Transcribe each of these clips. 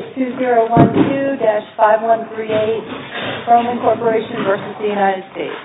2012-5138 ROMAN CORPORATION v. United States 2011-5138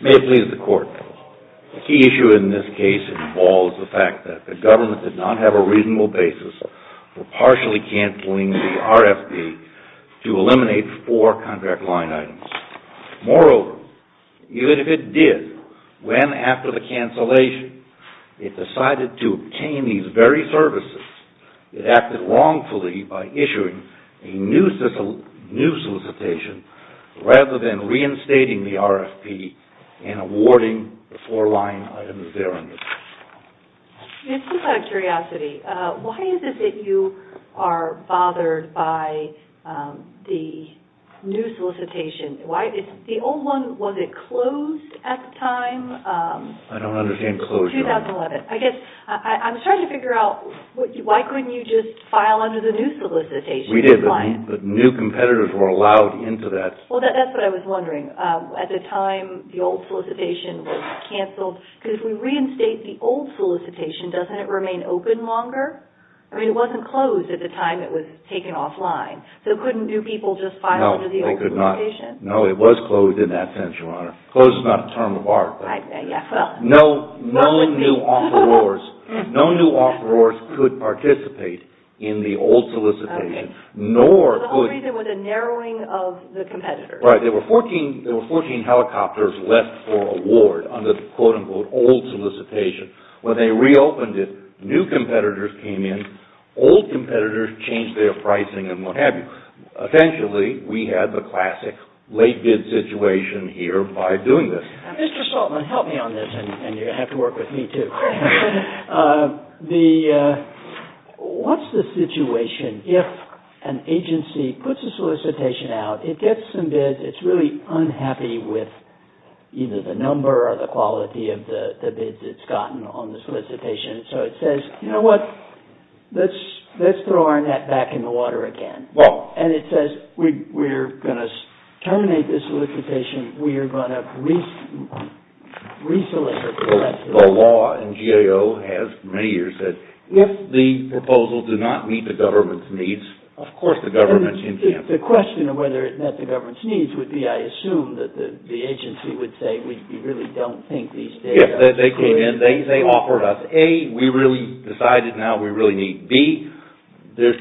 May it please the court, the key issue in this case involves the fact that the government did not have a reasonable basis for partially canceling the RFP to eliminate four contract line items. Moreover, even if it did, when after the cancellation it decided to obtain these very services, it acted wrongfully by issuing a new solicitation rather than reinstating the RFP and awarding the four line items there under the law. Just out of curiosity, why is it that you are bothered by the new solicitation? The old one, was it closed at the time? I don't understand closed, Your Honor. 2011. I guess I'm starting to figure out why couldn't you just file under the new solicitation and decline? We did, but new competitors were allowed into that. That's what I was wondering. At the time, the old solicitation was canceled. If we reinstate the old solicitation, doesn't it remain open longer? It wasn't closed at the time it was taken offline, so couldn't new people just file under the old solicitation? No, it was closed in that sense, Your Honor. Closed is not a term of art. No new offerors could participate in the old solicitation, nor could... The reason was a narrowing of the competitors. Right. There were 14 helicopters left for award under the quote-unquote old solicitation. When they reopened it, new competitors came in, old competitors changed their pricing and what have you. Eventually, we had the classic late bid situation here by doing this. Mr. Saltzman, help me on this, and you're going to have to work with me, too. What's the situation if an agency puts a solicitation out, it gets some bids, it's really unhappy with either the number or the quality of the bids it's gotten on the solicitation, so it says, you know what? Let's throw our net back in the water again. It says, we're going to terminate this solicitation. We are going to re-solicit the rest of it. The law in GAO has, for many years, said, if the proposal does not meet the government's needs, of course the government can cancel it. The question of whether it met the government's needs would be, I assume, that the agency would say, we really don't think these data... Yes, they came in, they offered us A, we really decided now we really need B. Their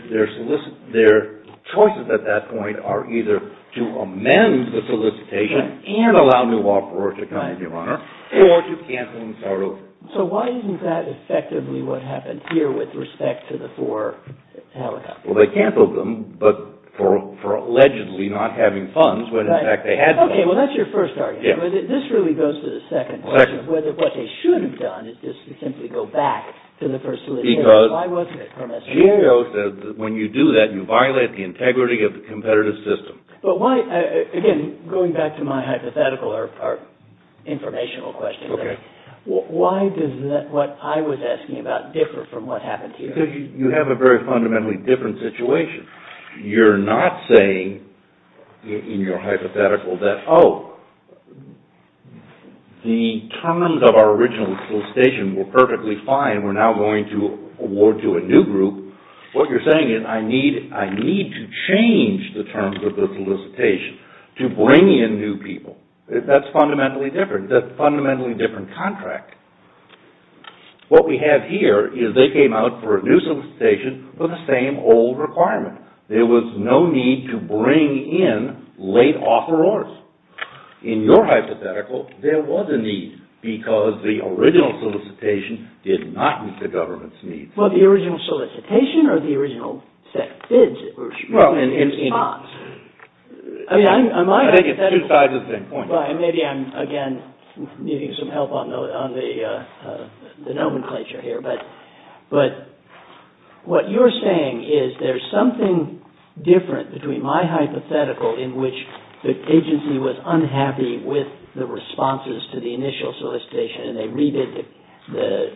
choices at that point are either to amend the solicitation and allow new offerors to come in, your honor, or to cancel and start over. So why isn't that effectively what happened here with respect to the four helicopters? Well, they canceled them, but for allegedly not having funds when in fact they had funds. Okay, well that's your first argument, but this really goes to the second question, whether what they should have done is just simply go back to the first solicitation. Why wasn't it permitted? GAO says that when you do that, you violate the integrity of the competitive system. Again, going back to my hypothetical or informational question, why does what I was asking about differ from what happened here? Because you have a very fundamentally different situation. You're not saying in your hypothetical that, oh, the terms of our original solicitation were perfectly fine, we're now going to award to a new group. What you're saying is, I need to change the terms of the solicitation to bring in new people. That's fundamentally different. That's a fundamentally different contract. What we have here is they came out for a new solicitation with the same old requirement. There was no need to bring in late offerors. In your hypothetical, there was a need because the original solicitation did not meet the government's needs. Well, the original solicitation or the original set of bids? I think it's two sides of the same coin. Maybe I'm, again, needing some help on the nomenclature here, but what you're saying is there's something different between my hypothetical in which the agency was unhappy with the responses to the initial solicitation and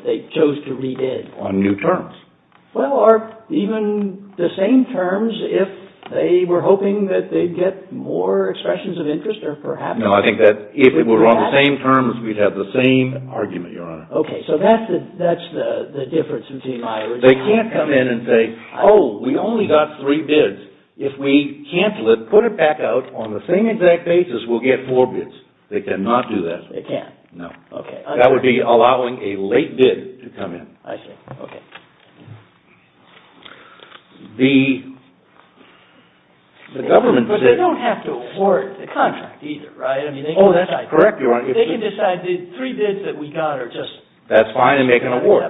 they chose to re-bid. On new terms. Well, or even the same terms if they were hoping that they'd get more expressions of interest or perhaps... No, I think that if it were on the same terms, we'd have the same argument, Your Honor. Okay, so that's the difference between my original... They can't come in and say, oh, we only got three bids. If we cancel it, put it back out, on the same exact basis, we'll get four bids. They cannot do that. They can't? No. Okay. That would be allowing a late bid to come in. I see. Okay. The government position... But they don't have to award the contract either, right? Oh, that's correct, Your Honor. They can decide the three bids that we got are just... That's fine and make an award.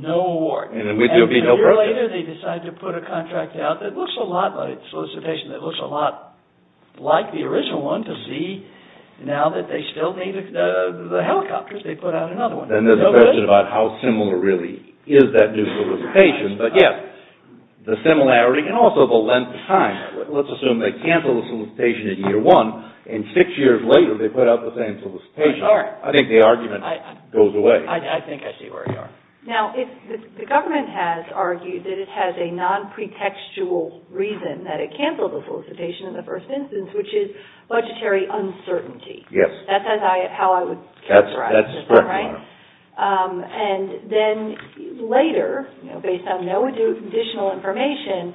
No award. And then there'll be no purchase. Six years later, they decide to put a contract out that looks a lot like the solicitation, that looks a lot like the original one to see now that they still need the helicopters, they put out another one. Then there's a question about how similar really is that new solicitation. But yes, the similarity and also the length of time. Let's assume they cancel the solicitation in year one, and six years later they put out the same solicitation. I think the argument goes away. I think I see where you are. Now, the government has argued that it has a non-pretextual reason that it canceled the solicitation in the first instance, which is budgetary uncertainty. Yes. That's how I would characterize it, right? That's correct, Your Honor. And then later, based on no additional information,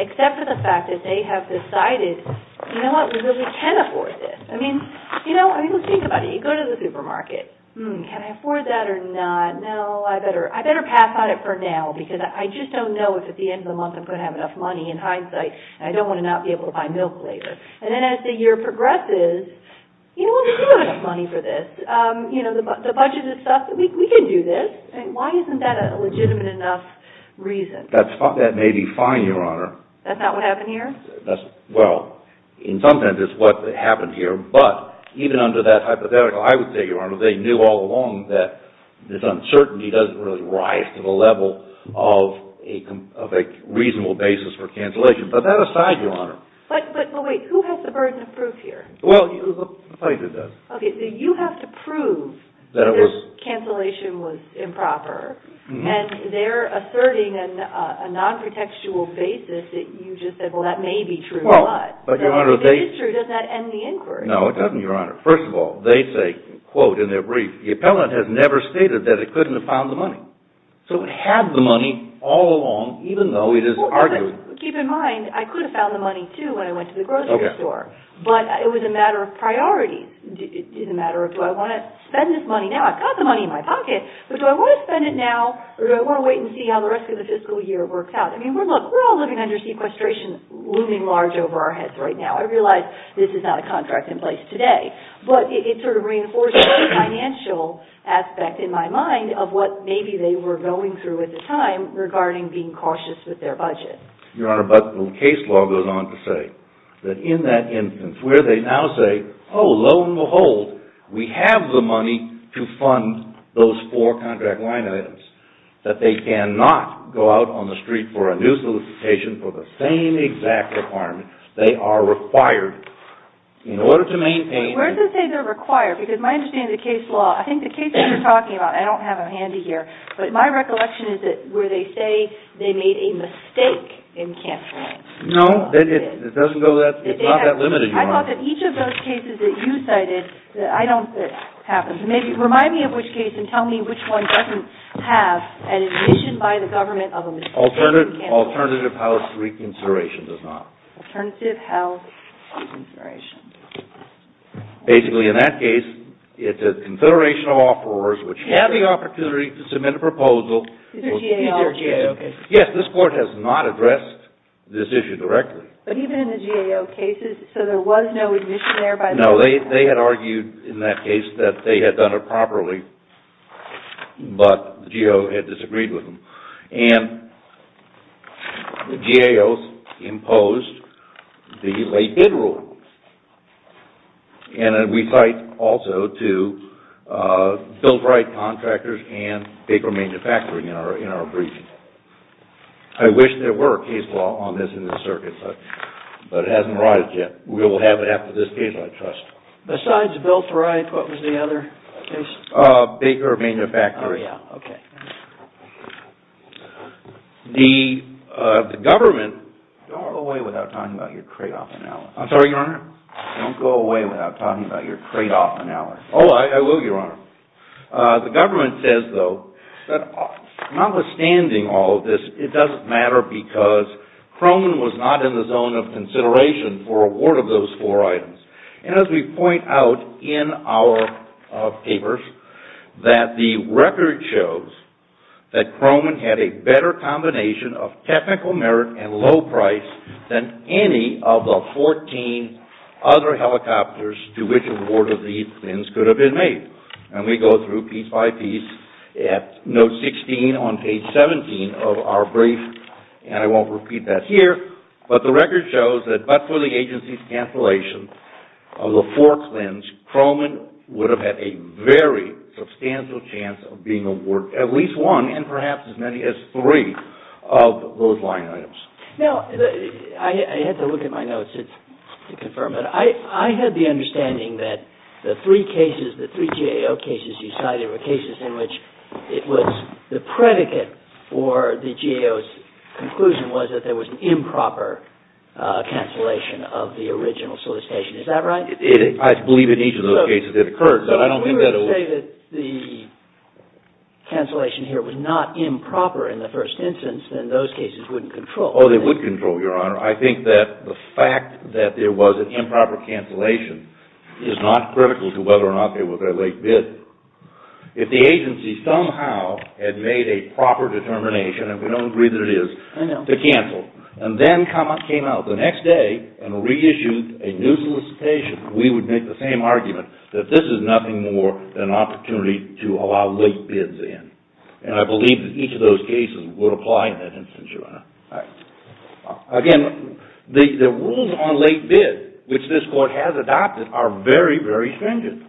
except for the fact that they have decided, you know what, we really can afford this. I mean, let's think about it. You go to the supermarket. Hmm, can I afford that or not? No, I better pass on it for now because I just don't know if at the end of the month I'm going to have enough money. In hindsight, I don't want to not be able to buy milk later. And then as the year progresses, you know what, we do have enough money for this. You know, the budgeted stuff, we can do this. Why isn't that a legitimate enough reason? That may be fine, Your Honor. That's not what happened here? Well, in some sense it's what happened here. But even under that hypothetical, I would say, Your Honor, they knew all along that this uncertainty doesn't really rise to the level of a reasonable basis for cancellation. But that aside, Your Honor. But wait, who has the burden of proof here? Well, the plaintiff does. Okay, so you have to prove that this cancellation was improper. And they're asserting a non-protectual basis that you just said, well, that may be true. But, Your Honor, they – If it is true, does that end the inquiry? No, it doesn't, Your Honor. First of all, they say, quote in their brief, the appellant has never stated that it couldn't have found the money. So it had the money all along, even though it is arguing – Well, keep in mind, I could have found the money, too, when I went to the grocery store. Okay. But it was a matter of priorities. It's a matter of do I want to spend this money now? I've got the money in my pocket, but do I want to spend it now or do I want to wait and see how the rest of the fiscal year works out? I mean, look, we're all living under sequestration looming large over our heads right now. I realize this is not a contract in place today. But it sort of reinforces a financial aspect in my mind of what maybe they were going through at the time regarding being cautious with their budget. Your Honor, but the case law goes on to say that in that instance where they now say, oh, lo and behold, we have the money to fund those four contract line items, that they cannot go out on the street for a new solicitation for the same exact requirement. They are required in order to maintain – Wait, where does it say they're required? Because my understanding of the case law, I think the cases you're talking about – I don't have them handy here – but my recollection is that where they say they made a mistake in canceling. No, it doesn't go that – it's not that limited, Your Honor. I thought that each of those cases that you cited, that I don't think happens. Remind me of which case and tell me which one doesn't have an admission by the government of a mistake in canceling. Alternative health reconsideration does not. Alternative health reconsideration. Basically, in that case, it's a confederation of offerors which have the opportunity to submit a proposal. Is there GAO? Yes, this Court has not addressed this issue directly. But even in the GAO cases, so there was no admission there by the government? No, they had argued in that case that they had done it properly, but the GAO had disagreed with them. And the GAO imposed the late bid rule. And we cite also to Bill Bright Contractors and Paper Manufacturing in our brief. I wish there were a case law on this in the circuit, but it hasn't arrived yet. We will have it after this case, I trust. Besides Bill Bright, what was the other case? Baker Manufacturing. Oh, yeah, okay. The government... Don't go away without talking about your trade-off analysis. I'm sorry, Your Honor? Don't go away without talking about your trade-off analysis. Oh, I will, Your Honor. The government says, though, that notwithstanding all of this, it doesn't matter because Croman was not in the zone of consideration for award of those four items. And as we point out in our papers, that the record shows that Croman had a better combination of technical merit and low price than any of the 14 other helicopters to which award of these things could have been made. And we go through piece by piece at note 16 on page 17 of our brief. And I won't repeat that here. But the record shows that but for the agency's cancellation of the forked lens, Croman would have had a very substantial chance of being awarded at least one, and perhaps as many as three, of those line items. Now, I had to look at my notes to confirm that. I had the understanding that the three GAO cases you cited were cases in which it was the predicate or the GAO's conclusion was that there was an improper cancellation of the original solicitation. Is that right? I believe in each of those cases it occurred, but I don't think that it was... If we were to say that the cancellation here was not improper in the first instance, then those cases wouldn't control. Oh, they would control, Your Honor. I think that the fact that there was an improper cancellation is not critical to whether or not there was a late bid. If the agency somehow had made a proper determination, and we don't agree that it is, to cancel and then came out the next day and reissued a new solicitation, we would make the same argument that this is nothing more than an opportunity to allow late bids in. And I believe that each of those cases would apply in that instance, Your Honor. Again, the rules on late bid, which this Court has adopted, are very, very stringent.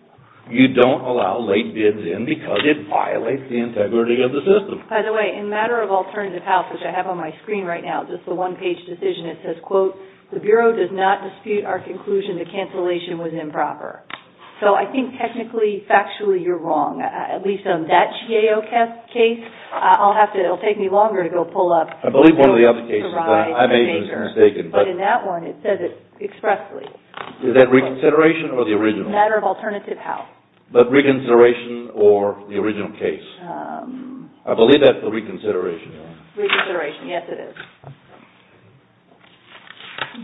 You don't allow late bids in because it violates the integrity of the system. By the way, in a matter of alternative health, which I have on my screen right now, just a one-page decision, it says, quote, the Bureau does not dispute our conclusion that cancellation was improper. So I think technically, factually, you're wrong. At least on that GAO case, it will take me longer to go pull up... I believe one of the other cases that I made was mistaken. But in that one, it says it expressly. Is that reconsideration or the original? Matter of alternative health. But reconsideration or the original case? I believe that's the reconsideration, Your Honor. Reconsideration, yes, it is.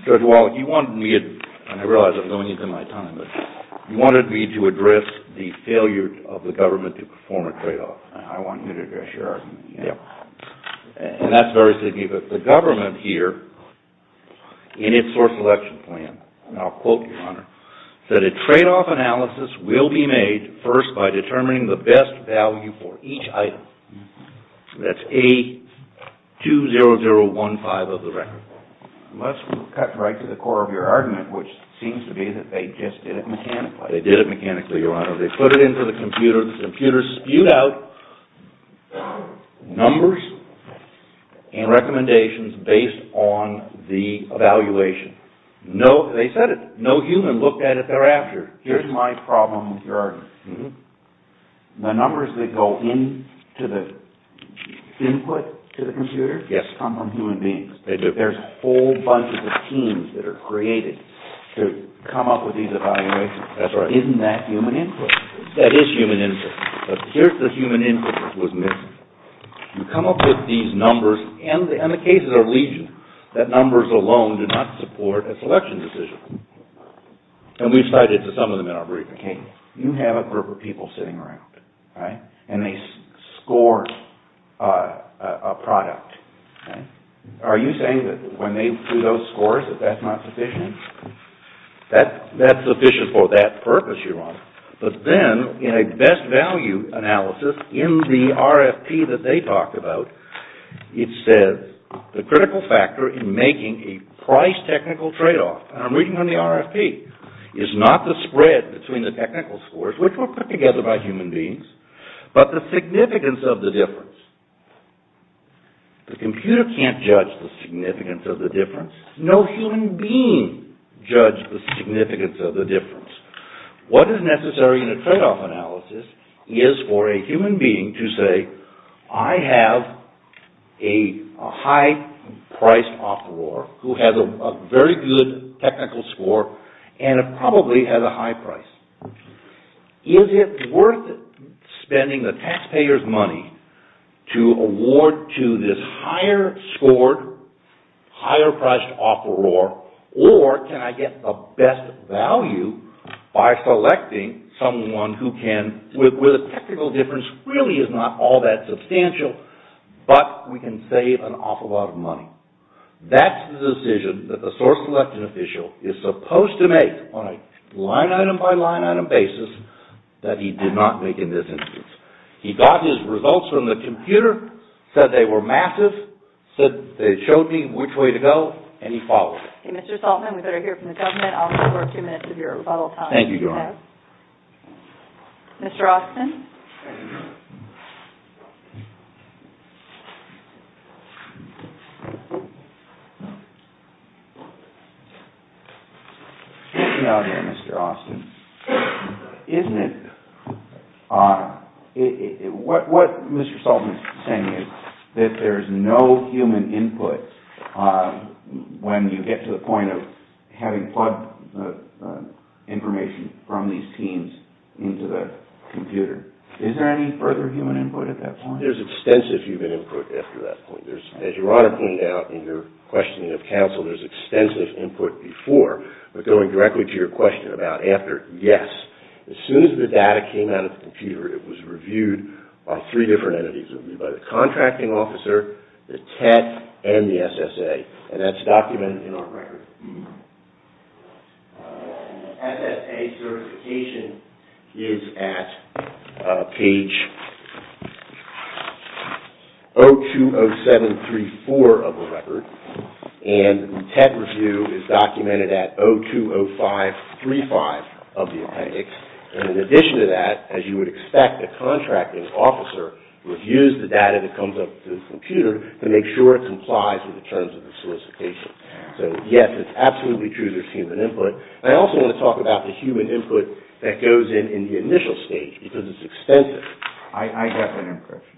Judge Wallen, you wanted me to, and I realize I'm going into my time, but you wanted me to address the failure of the government to perform a tradeoff. I want you to address your argument. And that's very significant. The government here, in its source selection plan, and I'll quote, Your Honor, said a tradeoff analysis will be made first by determining the best value for each item. That's A20015 of the record. Unless we cut right to the core of your argument, which seems to be that they just did it mechanically. They did it mechanically, Your Honor. They put it into the computer. The computer spewed out numbers and recommendations based on the evaluation. They said it. No human looked at it thereafter. Here's my problem, Your Honor. The numbers that go into the input to the computer come from human beings. They do. There's a whole bunch of schemes that are created to come up with these evaluations. That's right. Isn't that human input? That is human input. But here's the human input that was missing. You come up with these numbers, and the cases are legion, that numbers alone do not support a selection decision. And we've cited some of them in our briefing. Okay. You have a group of people sitting around, right? And they score a product. Are you saying that when they do those scores that that's not sufficient? That's sufficient for that purpose, Your Honor. But then in a best value analysis in the RFP that they talked about, it says the critical factor in making a price technical tradeoff, and I'm reading from the RFP, is not the spread between the technical scores, which were put together by human beings, but the significance of the difference. The computer can't judge the significance of the difference. No human being judged the significance of the difference. What is necessary in a tradeoff analysis is for a human being to say, I have a high-priced offeror who has a very good technical score, and it probably has a high price. Is it worth spending the taxpayer's money to award to this higher scored, higher priced offeror, or can I get the best value by selecting someone who can, where the technical difference really is not all that substantial, but we can save an awful lot of money. That's the decision that the source-selected official is supposed to make on a line-item by line-item basis that he did not make in this instance. He got his results from the computer, said they were massive, showed me which way to go, and he followed it. Okay, Mr. Saltzman, we'd better hear from the government. I'll defer two minutes of your rebuttal time. Thank you, Your Honor. Mr. Austin. Get me out of here, Mr. Austin. Isn't it odd? What Mr. Saltzman is saying is that there's no human input when you get to the point of having plugged information from these teams into the computer. Is there any further human input at that point? There's extensive human input after that point. As Your Honor pointed out in your questioning of counsel, there's extensive input before, but going directly to your question about after, yes. As soon as the data came out of the computer, it was reviewed by three different entities, by the contracting officer, the TET, and the SSA, and that's documented in our record. The SSA certification is at page 020734 of the record, and the TET review is documented at 020535 of the appendix, and in addition to that, as you would expect, the contracting officer reviews the data that comes up to the computer to make sure it complies with the terms of the solicitation. So, yes, it's absolutely true there's human input. I also want to talk about the human input that goes in in the initial stage because it's extensive. I have an impression.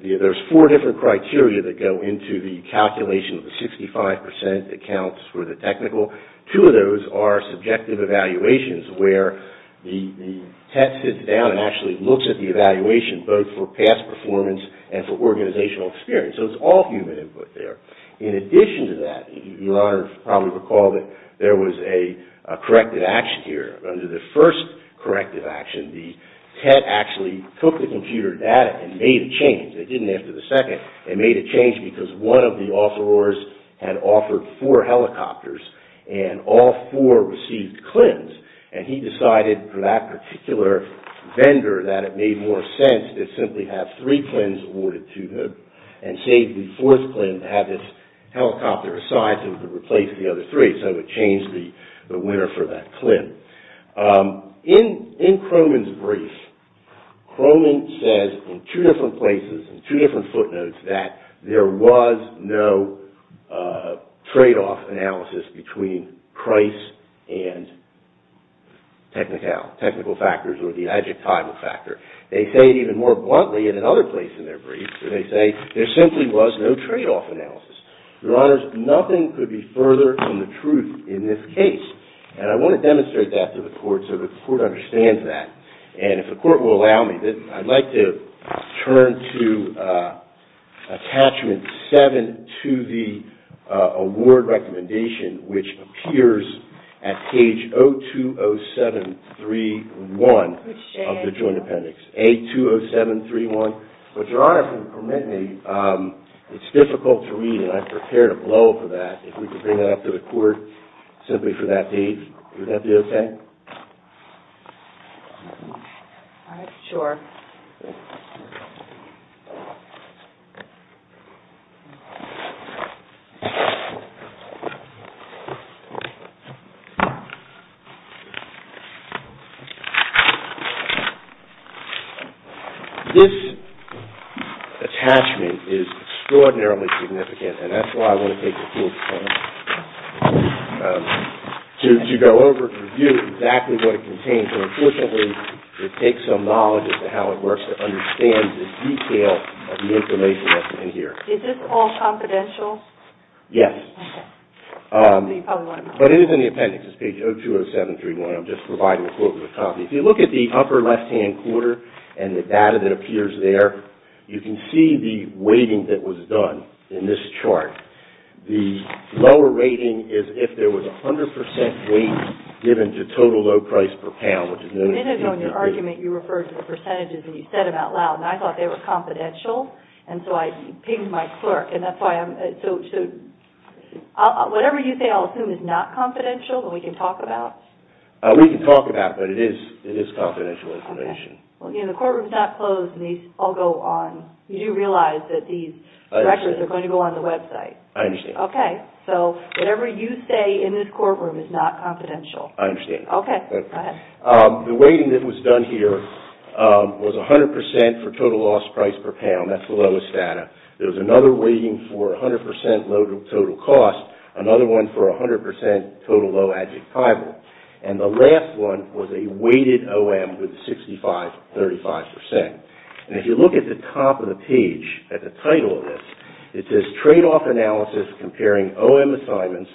There's four different criteria that go into the calculation of the 65% that counts for the technical. Two of those are subjective evaluations where the TET sits down and actually looks at the evaluation, both for past performance and for organizational experience. So it's all human input there. In addition to that, Your Honor probably recalled that there was a corrective action here. Under the first corrective action, the TET actually took the computer data and made a change. It didn't answer the second. It made a change because one of the offerors had offered four helicopters, and all four received CLINs, and he decided for that particular vendor that it made more sense to simply have three CLINs awarded to him and save the fourth CLIN to have this helicopter assigned so he could replace the other three, so it changed the winner for that CLIN. In Croman's brief, Croman says in two different places, in two different footnotes, that there was no tradeoff analysis between price and technical factors or the adjectival factor. They say it even more bluntly in another place in their brief. They say there simply was no tradeoff analysis. Your Honors, nothing could be further from the truth in this case, and I want to demonstrate that to the Court so that the Court understands that, and if the Court will allow me, I'd like to turn to Attachment 7 to the award recommendation, which appears at page 020731 of the Joint Appendix, A20731. But Your Honor, if you'll permit me, it's difficult to read, and I've prepared a blow-up of that. If we could bring that up to the Court simply for that date, would that be okay? All right, sure. This attachment is extraordinarily significant, and that's why I want to take the time to go over and review exactly what it contains so that we can take some knowledge as to how it works to understand the detail of the information that's in here. Is this all confidential? Yes. Okay. But it is in the appendix. It's page 020731. I'm just providing a quote with a copy. If you look at the upper left-hand corner and the data that appears there, you can see the weighting that was done in this chart. The lower rating is if there was 100 percent weight given to total low price per pound, which is noticeably different. A minute ago in your argument, you referred to the percentages, and you said them out loud, and I thought they were confidential, and so I pinged my clerk, and that's why I'm – so whatever you say I'll assume is not confidential that we can talk about? We can talk about it, but it is confidential information. Okay. The courtroom is not closed, and these all go on. You do realize that these records are going to go on the website. I understand. Okay. So whatever you say in this courtroom is not confidential. I understand. Okay. Go ahead. The weighting that was done here was 100 percent for total loss price per pound. That's the lowest data. There was another weighting for 100 percent load of total cost, another one for 100 percent total low adjectival, and the last one was a weighted OM with 65, 35 percent. And if you look at the top of the page at the title of this, it says tradeoff analysis comparing OM assignments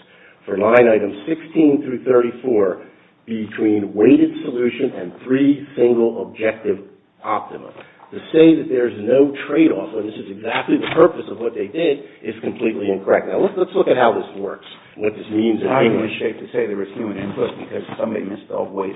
for line items 16 through 34 between weighted solution and three single objective optimum. To say that there's no tradeoff, and this is exactly the purpose of what they did, is completely incorrect. Now let's look at how this works, and what this means in English. I'm not in the shape to say there was human input because somebody missed all the weight.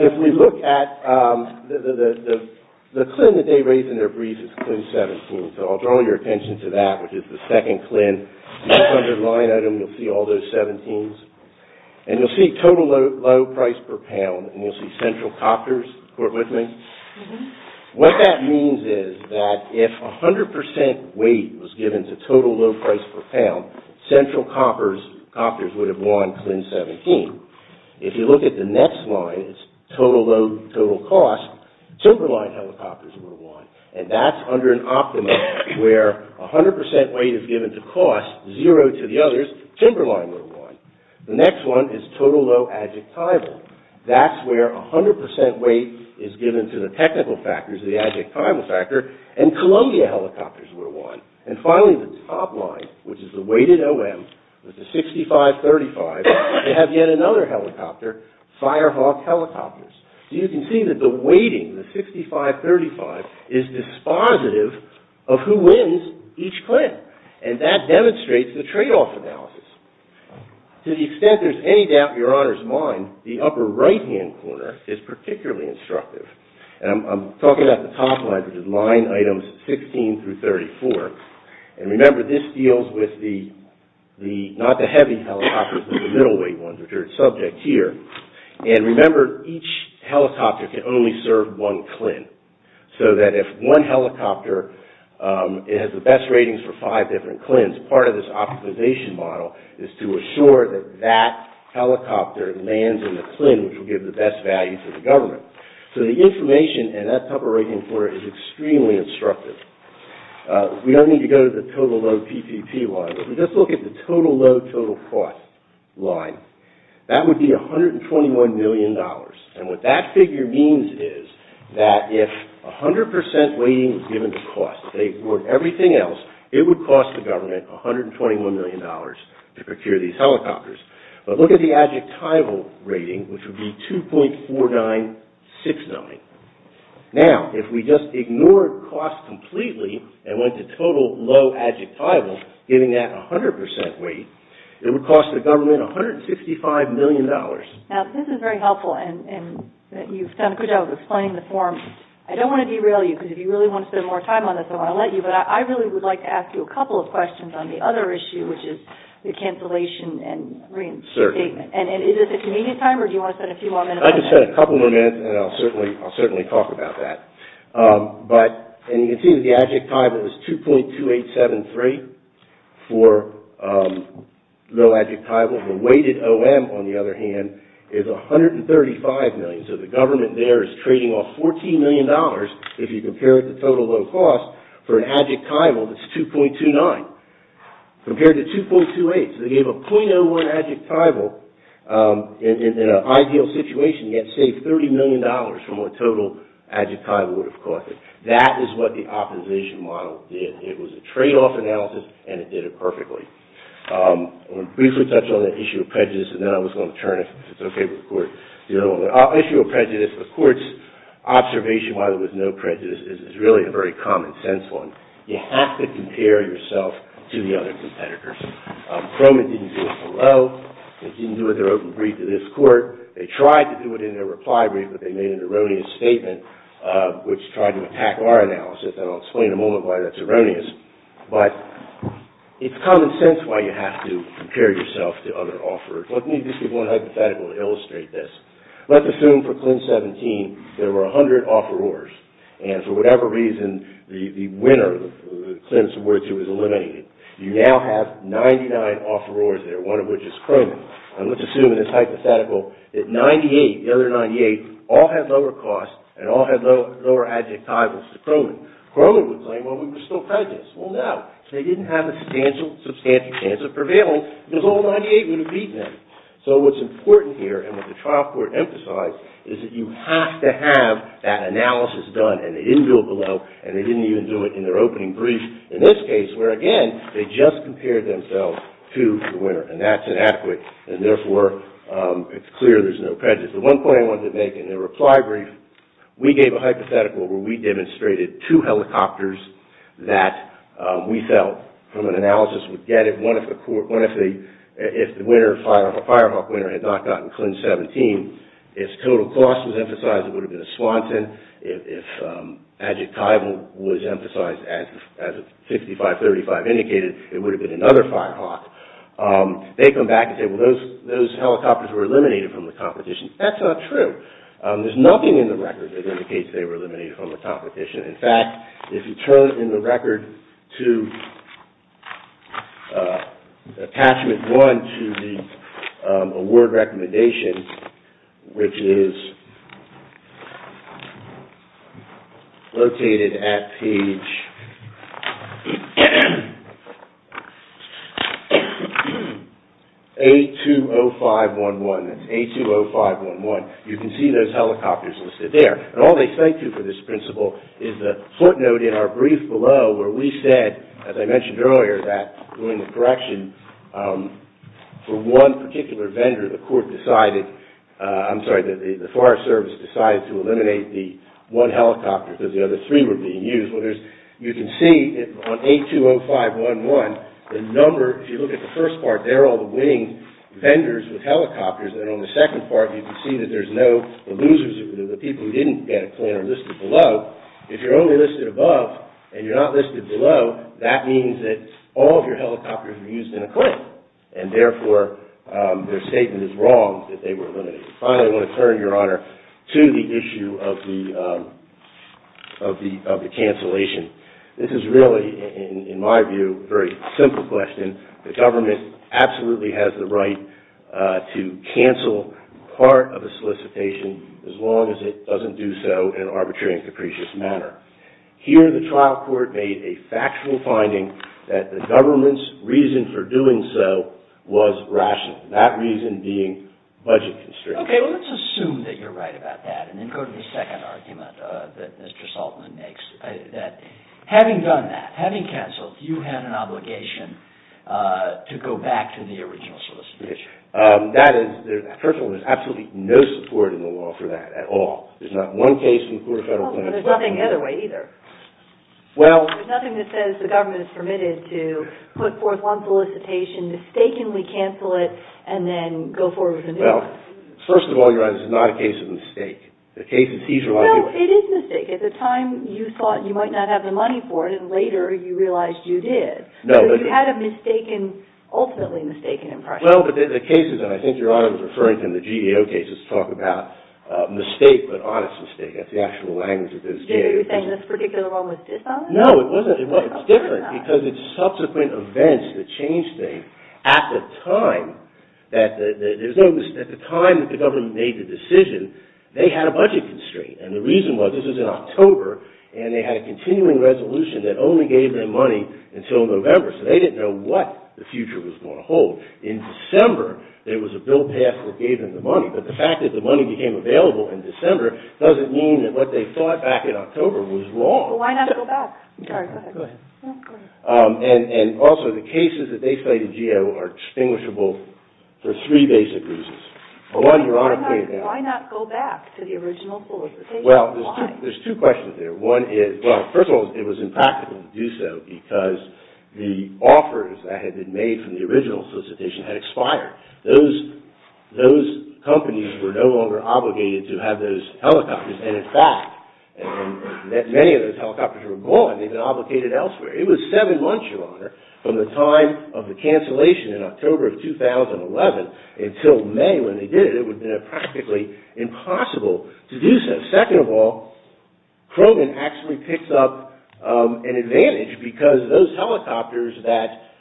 If we look at the CLIN that they raised in their brief, it's CLIN 17. So I'll draw your attention to that, which is the second CLIN. That's under line item. You'll see all those 17s. And you'll see total low price per pound, and you'll see central copters, What that means is that if 100 percent weight was given to total low price per pound, central copters would have won CLIN 17. If you look at the next line, it's total low total cost, timberline helicopters would have won. And that's under an optimum where 100 percent weight is given to cost, zero to the others, timberline would have won. The next one is total low adjectival. That's where 100 percent weight is given to the technical factors, the adjectival factor, and Columbia helicopters would have won. And finally, the top line, which is the weighted OM, with the 6535, they have yet another helicopter, Firehawk helicopters. You can see that the weighting, the 6535, is dispositive of who wins each CLIN. And that demonstrates the tradeoff analysis. To the extent there's any doubt in your honor's mind, the upper right-hand corner is particularly instructive. And I'm talking about the top line, which is line items 16 through 34. And remember, this deals with the, not the heavy helicopters, but the middleweight ones, which are at subject here. And remember, each helicopter can only serve one CLIN. So that if one helicopter has the best ratings for five different CLINs, part of this optimization model is to assure that that helicopter lands in the CLIN, which will give the best value to the government. So the information in that upper right-hand corner is extremely instructive. We don't need to go to the total low PPP line, but if we just look at the total low total cost line, that would be $121 million. And what that figure means is that if 100 percent weighting is given to cost, they would, everything else, it would cost the government $121 million to procure these helicopters. But look at the adjectival rating, which would be 2.4969. Now, if we just ignore cost completely and went to total low adjectival, giving that 100 percent weight, it would cost the government $165 million. Now, this is very helpful, and you've done a good job of explaining the form. I don't want to derail you, because if you really want to spend more time on this, I'm going to let you, but I really would like to ask you a couple of questions on the other issue, which is the cancellation and reinstatement. And is this a convenient time, or do you want to spend a few more minutes on that? I can spend a couple more minutes, and I'll certainly talk about that. But, and you can see that the adjectival is 2.2873 for low adjectival. The weighted OM, on the other hand, is $135 million. So the government there is trading off $14 million, if you compare it to total low cost, for an adjectival that's 2.29, compared to 2.28. So they gave a .01 adjectival in an ideal situation, yet saved $30 million from what total adjectival would have cost them. That is what the optimization model did. It was a trade-off analysis, and it did it perfectly. I'm going to briefly touch on that issue of prejudice, and then I was going to turn it. I'll issue a prejudice. The Court's observation why there was no prejudice is really a very common sense one. You have to compare yourself to the other competitors. Croman didn't do it below. They didn't do it in their open brief to this Court. They tried to do it in their reply brief, but they made an erroneous statement, which tried to attack our analysis, and I'll explain in a moment why that's erroneous. But it's common sense why you have to compare yourself to other offerors. Let me just give one hypothetical to illustrate this. Let's assume for Clint-17 there were 100 offerors, and for whatever reason the winner, Clint-242, was eliminated. You now have 99 offerors there, one of which is Croman. And let's assume in this hypothetical that 98, the other 98, all had lower costs and all had lower adjectivals to Croman. Croman would claim, well, we were still prejudiced. Well, no, they didn't have a substantial chance of prevailing because all 98 would have beaten them. So what's important here, and what the trial court emphasized, is that you have to have that analysis done, and they didn't do it below, and they didn't even do it in their opening brief in this case, where, again, they just compared themselves to the winner, and that's inadequate, and therefore it's clear there's no prejudice. The one point I wanted to make in the reply brief, we gave a hypothetical where we demonstrated two helicopters that we felt, from an analysis, would get it. If the winner, a Firehawk winner, had not gotten Clint-17, if total cost was emphasized, it would have been a Swanton. If adjectival was emphasized, as 6535 indicated, it would have been another Firehawk. They come back and say, well, those helicopters were eliminated from the competition. That's not true. There's nothing in the record that indicates they were eliminated from the competition. In fact, if you turn in the record to attachment one to the award recommendation, which is located at page A20511, you can see those helicopters listed there. All they say to you for this principle is the footnote in our brief below, where we said, as I mentioned earlier, that during the correction, for one particular vendor, the court decided, I'm sorry, the Forest Service decided to eliminate the one helicopter because the other three were being used. You can see on A20511, the number, if you look at the first part, there are all the winning vendors with helicopters, and on the second part, you can see that there's no losers, the people who didn't get a claim are listed below. If you're only listed above and you're not listed below, that means that all of your helicopters were used in a claim, and therefore, their statement is wrong that they were eliminated. Finally, I want to turn, Your Honor, to the issue of the cancellation. This is really, in my view, a very simple question. The government absolutely has the right to cancel part of a solicitation as long as it doesn't do so in an arbitrary and capricious manner. Here, the trial court made a factual finding that the government's reason for doing so was rational, that reason being budget constraints. Okay, let's assume that you're right about that, and then go to the second argument that Mr. Saltzman makes, that having done that, having canceled, you had an obligation to go back to the original solicitation. That is, first of all, there's absolutely no support in the law for that at all. There's not one case in the court of federal claims. There's nothing the other way either. There's nothing that says the government is permitted to put forth one solicitation, mistakenly cancel it, and then go forward with a new one. Well, first of all, Your Honor, this is not a case of mistake. No, it is a mistake. At the time, you thought you might not have the money for it, and later you realized you did. You had an ultimately mistaken impression. Well, but the cases, and I think Your Honor was referring to the GAO cases, talk about mistake but honest mistake. That's the actual language that those GAOs use. Are you saying this particular one was dishonest? No, it wasn't. Well, it's different because it's subsequent events that change things. At the time that the government made the decision, they had a budget constraint, and the reason was this was in October, and they had a continuing resolution that only gave them money until November, so they didn't know what the future was going to hold. In December, there was a bill passed that gave them the money, but the fact that the money became available in December doesn't mean that what they thought back in October was wrong. Well, why not go back? Sorry, go ahead. Go ahead. And also, the cases that they cited GAO are distinguishable for three basic reasons. Why not go back to the original solicitation? Why? Well, there's two questions there. One is, well, first of all, it was impractical to do so because the offers that had been made from the original solicitation had expired. Those companies were no longer obligated to have those helicopters, and in fact, many of those helicopters were gone. They've been obligated elsewhere. It was seven months, Your Honor, from the time of the cancellation in October of 2011 until May when they did it. It would have been practically impossible to do so. Second of all, Croman actually picked up an advantage because those helicopters that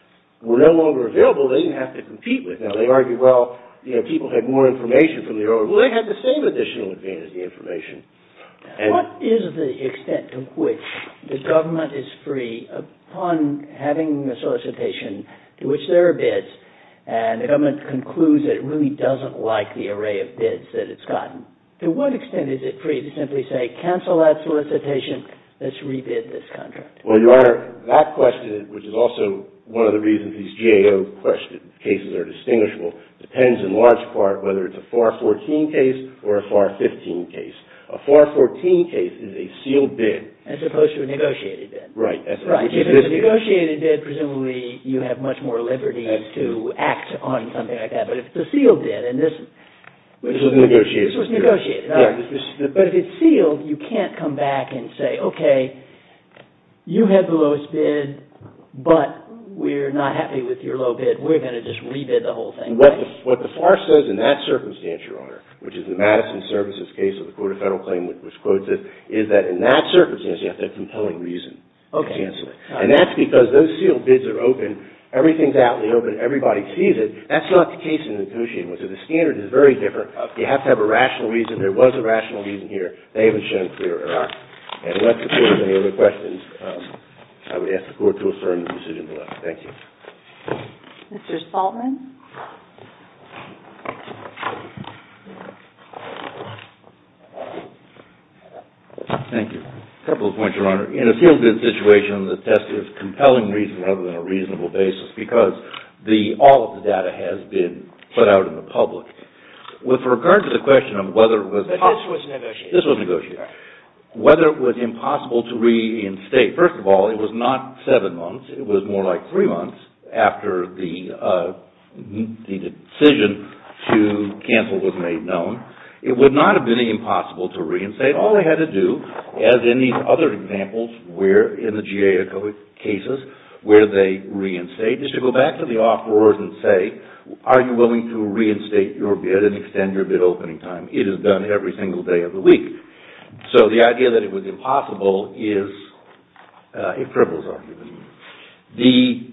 were no longer available, they didn't have to compete with them. They argued, well, people had more information from the original. Well, they had the same additional advantage, the information. What is the extent to which the government is free, upon having a solicitation to which there are bids, and the government concludes that it really doesn't like the array of bids that it's gotten, to what extent is it free to simply say, cancel that solicitation, let's re-bid this contract? Well, Your Honor, that question, which is also one of the reasons these GAO cases are distinguishable, depends in large part whether it's a FAR 14 case or a FAR 15 case. A FAR 14 case is a sealed bid. As opposed to a negotiated bid. Right. If it's a negotiated bid, presumably you have much more liberty to act on something like that. But if it's a sealed bid, and this was negotiated. But if it's sealed, you can't come back and say, okay, you had the lowest bid, but we're not happy with your low bid. We're going to just re-bid the whole thing. What the FAR says in that circumstance, Your Honor, which is the Madison Services case of the quota federal claim, which quotes it, is that in that circumstance you have to have compelling reason to cancel it. Okay. And that's because those sealed bids are open. Everything's out in the open. Everybody sees it. That's not the case in the Nacotian. The standard is very different. You have to have a rational reason. There was a rational reason here. They haven't shown clear error. All right. And unless there's any other questions, I would ask the Court to affirm the decision below. Thank you. Mr. Saltman? Thank you. A couple of points, Your Honor. In a sealed bid situation, the test is compelling reason rather than a reasonable basis because all of the data has been put out in the public. With regard to the question of whether it was impossible to reinstate, first of all, it was not seven months. It was more like three months after the decision to cancel was made known. It would not have been impossible to reinstate. All they had to do, as in these other examples in the GAO cases where they reinstated, is to go back to the offerors and say, are you willing to reinstate your bid and extend your bid opening time? It is done every single day of the week. So the idea that it was impossible is a frivolous argument. The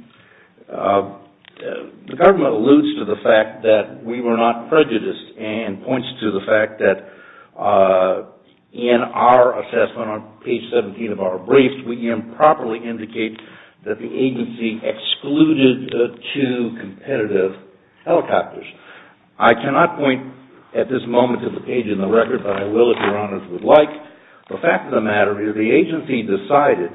government alludes to the fact that we were not prejudiced and points to the fact that in our assessment on page 17 of our brief, we improperly indicate that the agency excluded two competitive helicopters. I cannot point at this moment to the page in the record, but I will if Your Honors would like. The fact of the matter is the agency decided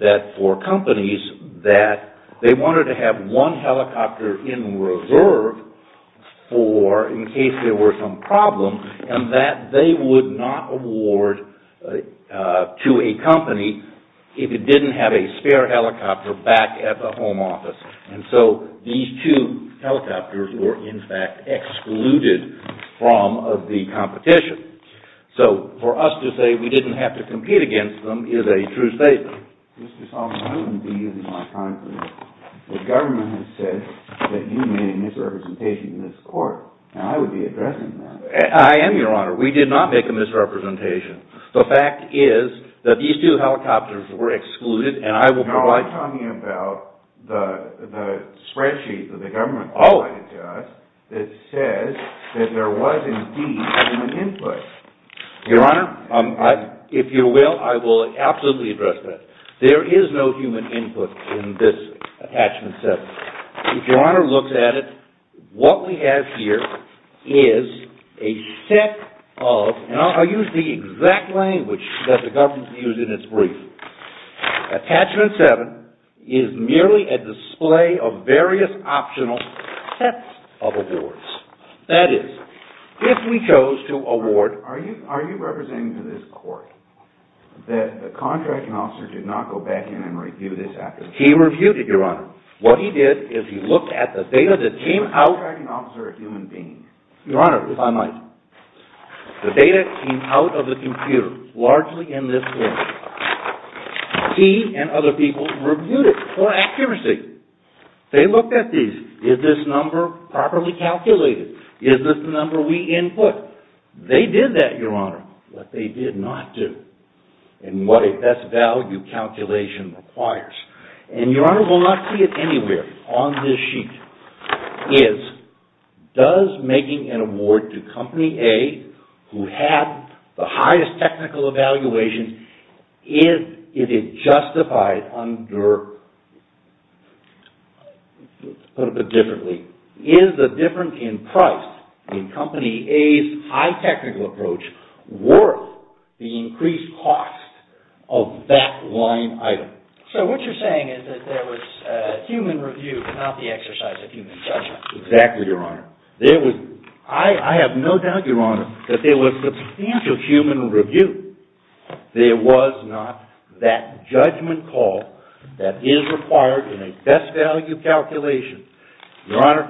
that for companies that they wanted to have one helicopter in reserve for in case there were some problems and that they would not award to a company if it didn't have a spare helicopter back at the home office. And so these two helicopters were in fact excluded from the competition. So for us to say we didn't have to compete against them is a true statement. Mr. Solomon, I wouldn't be using my time for this. The government has said that you made a misrepresentation in this court, and I would be addressing that. I am, Your Honor. We did not make a misrepresentation. The fact is that these two helicopters were excluded, and I will provide... No, I'm talking about the spreadsheet that the government provided to us that says that there was indeed human input. Your Honor, if you will, I will absolutely address that. There is no human input in this Attachment 7. If Your Honor looks at it, what we have here is a set of... and I'll use the exact language that the government used in its brief. Attachment 7 is merely a display of various optional sets of awards. That is, if we chose to award... Are you representing to this court that the contracting officer did not go back in and review this application? He reviewed it, Your Honor. What he did is he looked at the data that came out... The contracting officer is a human being. Your Honor, if I might. The data came out of the computer, largely in this form. He and other people reviewed it for accuracy. They looked at these. Is this number properly calculated? Is this the number we input? They did that, Your Honor. What they did not do, and what a best value calculation requires, and Your Honor will not see it anywhere on this sheet, is does making an award to Company A, who had the highest technical evaluation, if it justified under... Let's put it a bit differently. Is the difference in price in Company A's high technical approach worth the increased cost of that line item? So what you're saying is that there was human review, not the exercise of human judgment. Exactly, Your Honor. There was... I have no doubt, Your Honor, that there was substantial human review. There was not that judgment call that is required in a best value calculation. Your Honor,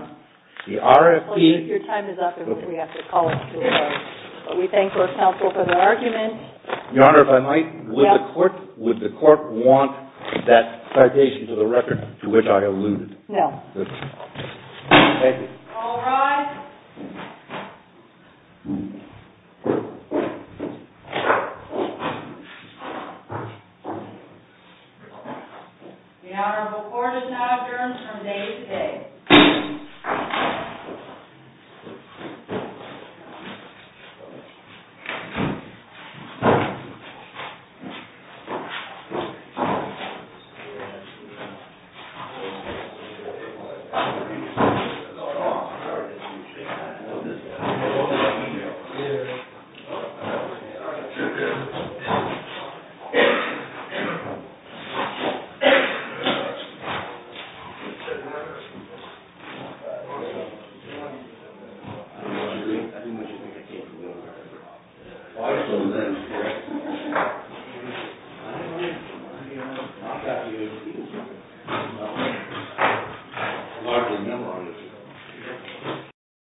the RFP... Your time is up, and we have to call it to a vote. We thank our counsel for their argument. Your Honor, if I might. Would the court want that citation to the record to which I alluded? No. Thank you. All rise. The Honorable Court is now adjourned from day to day. Thank you. I'm not happy to see you, sir. No. Largely a memory of you. Yeah.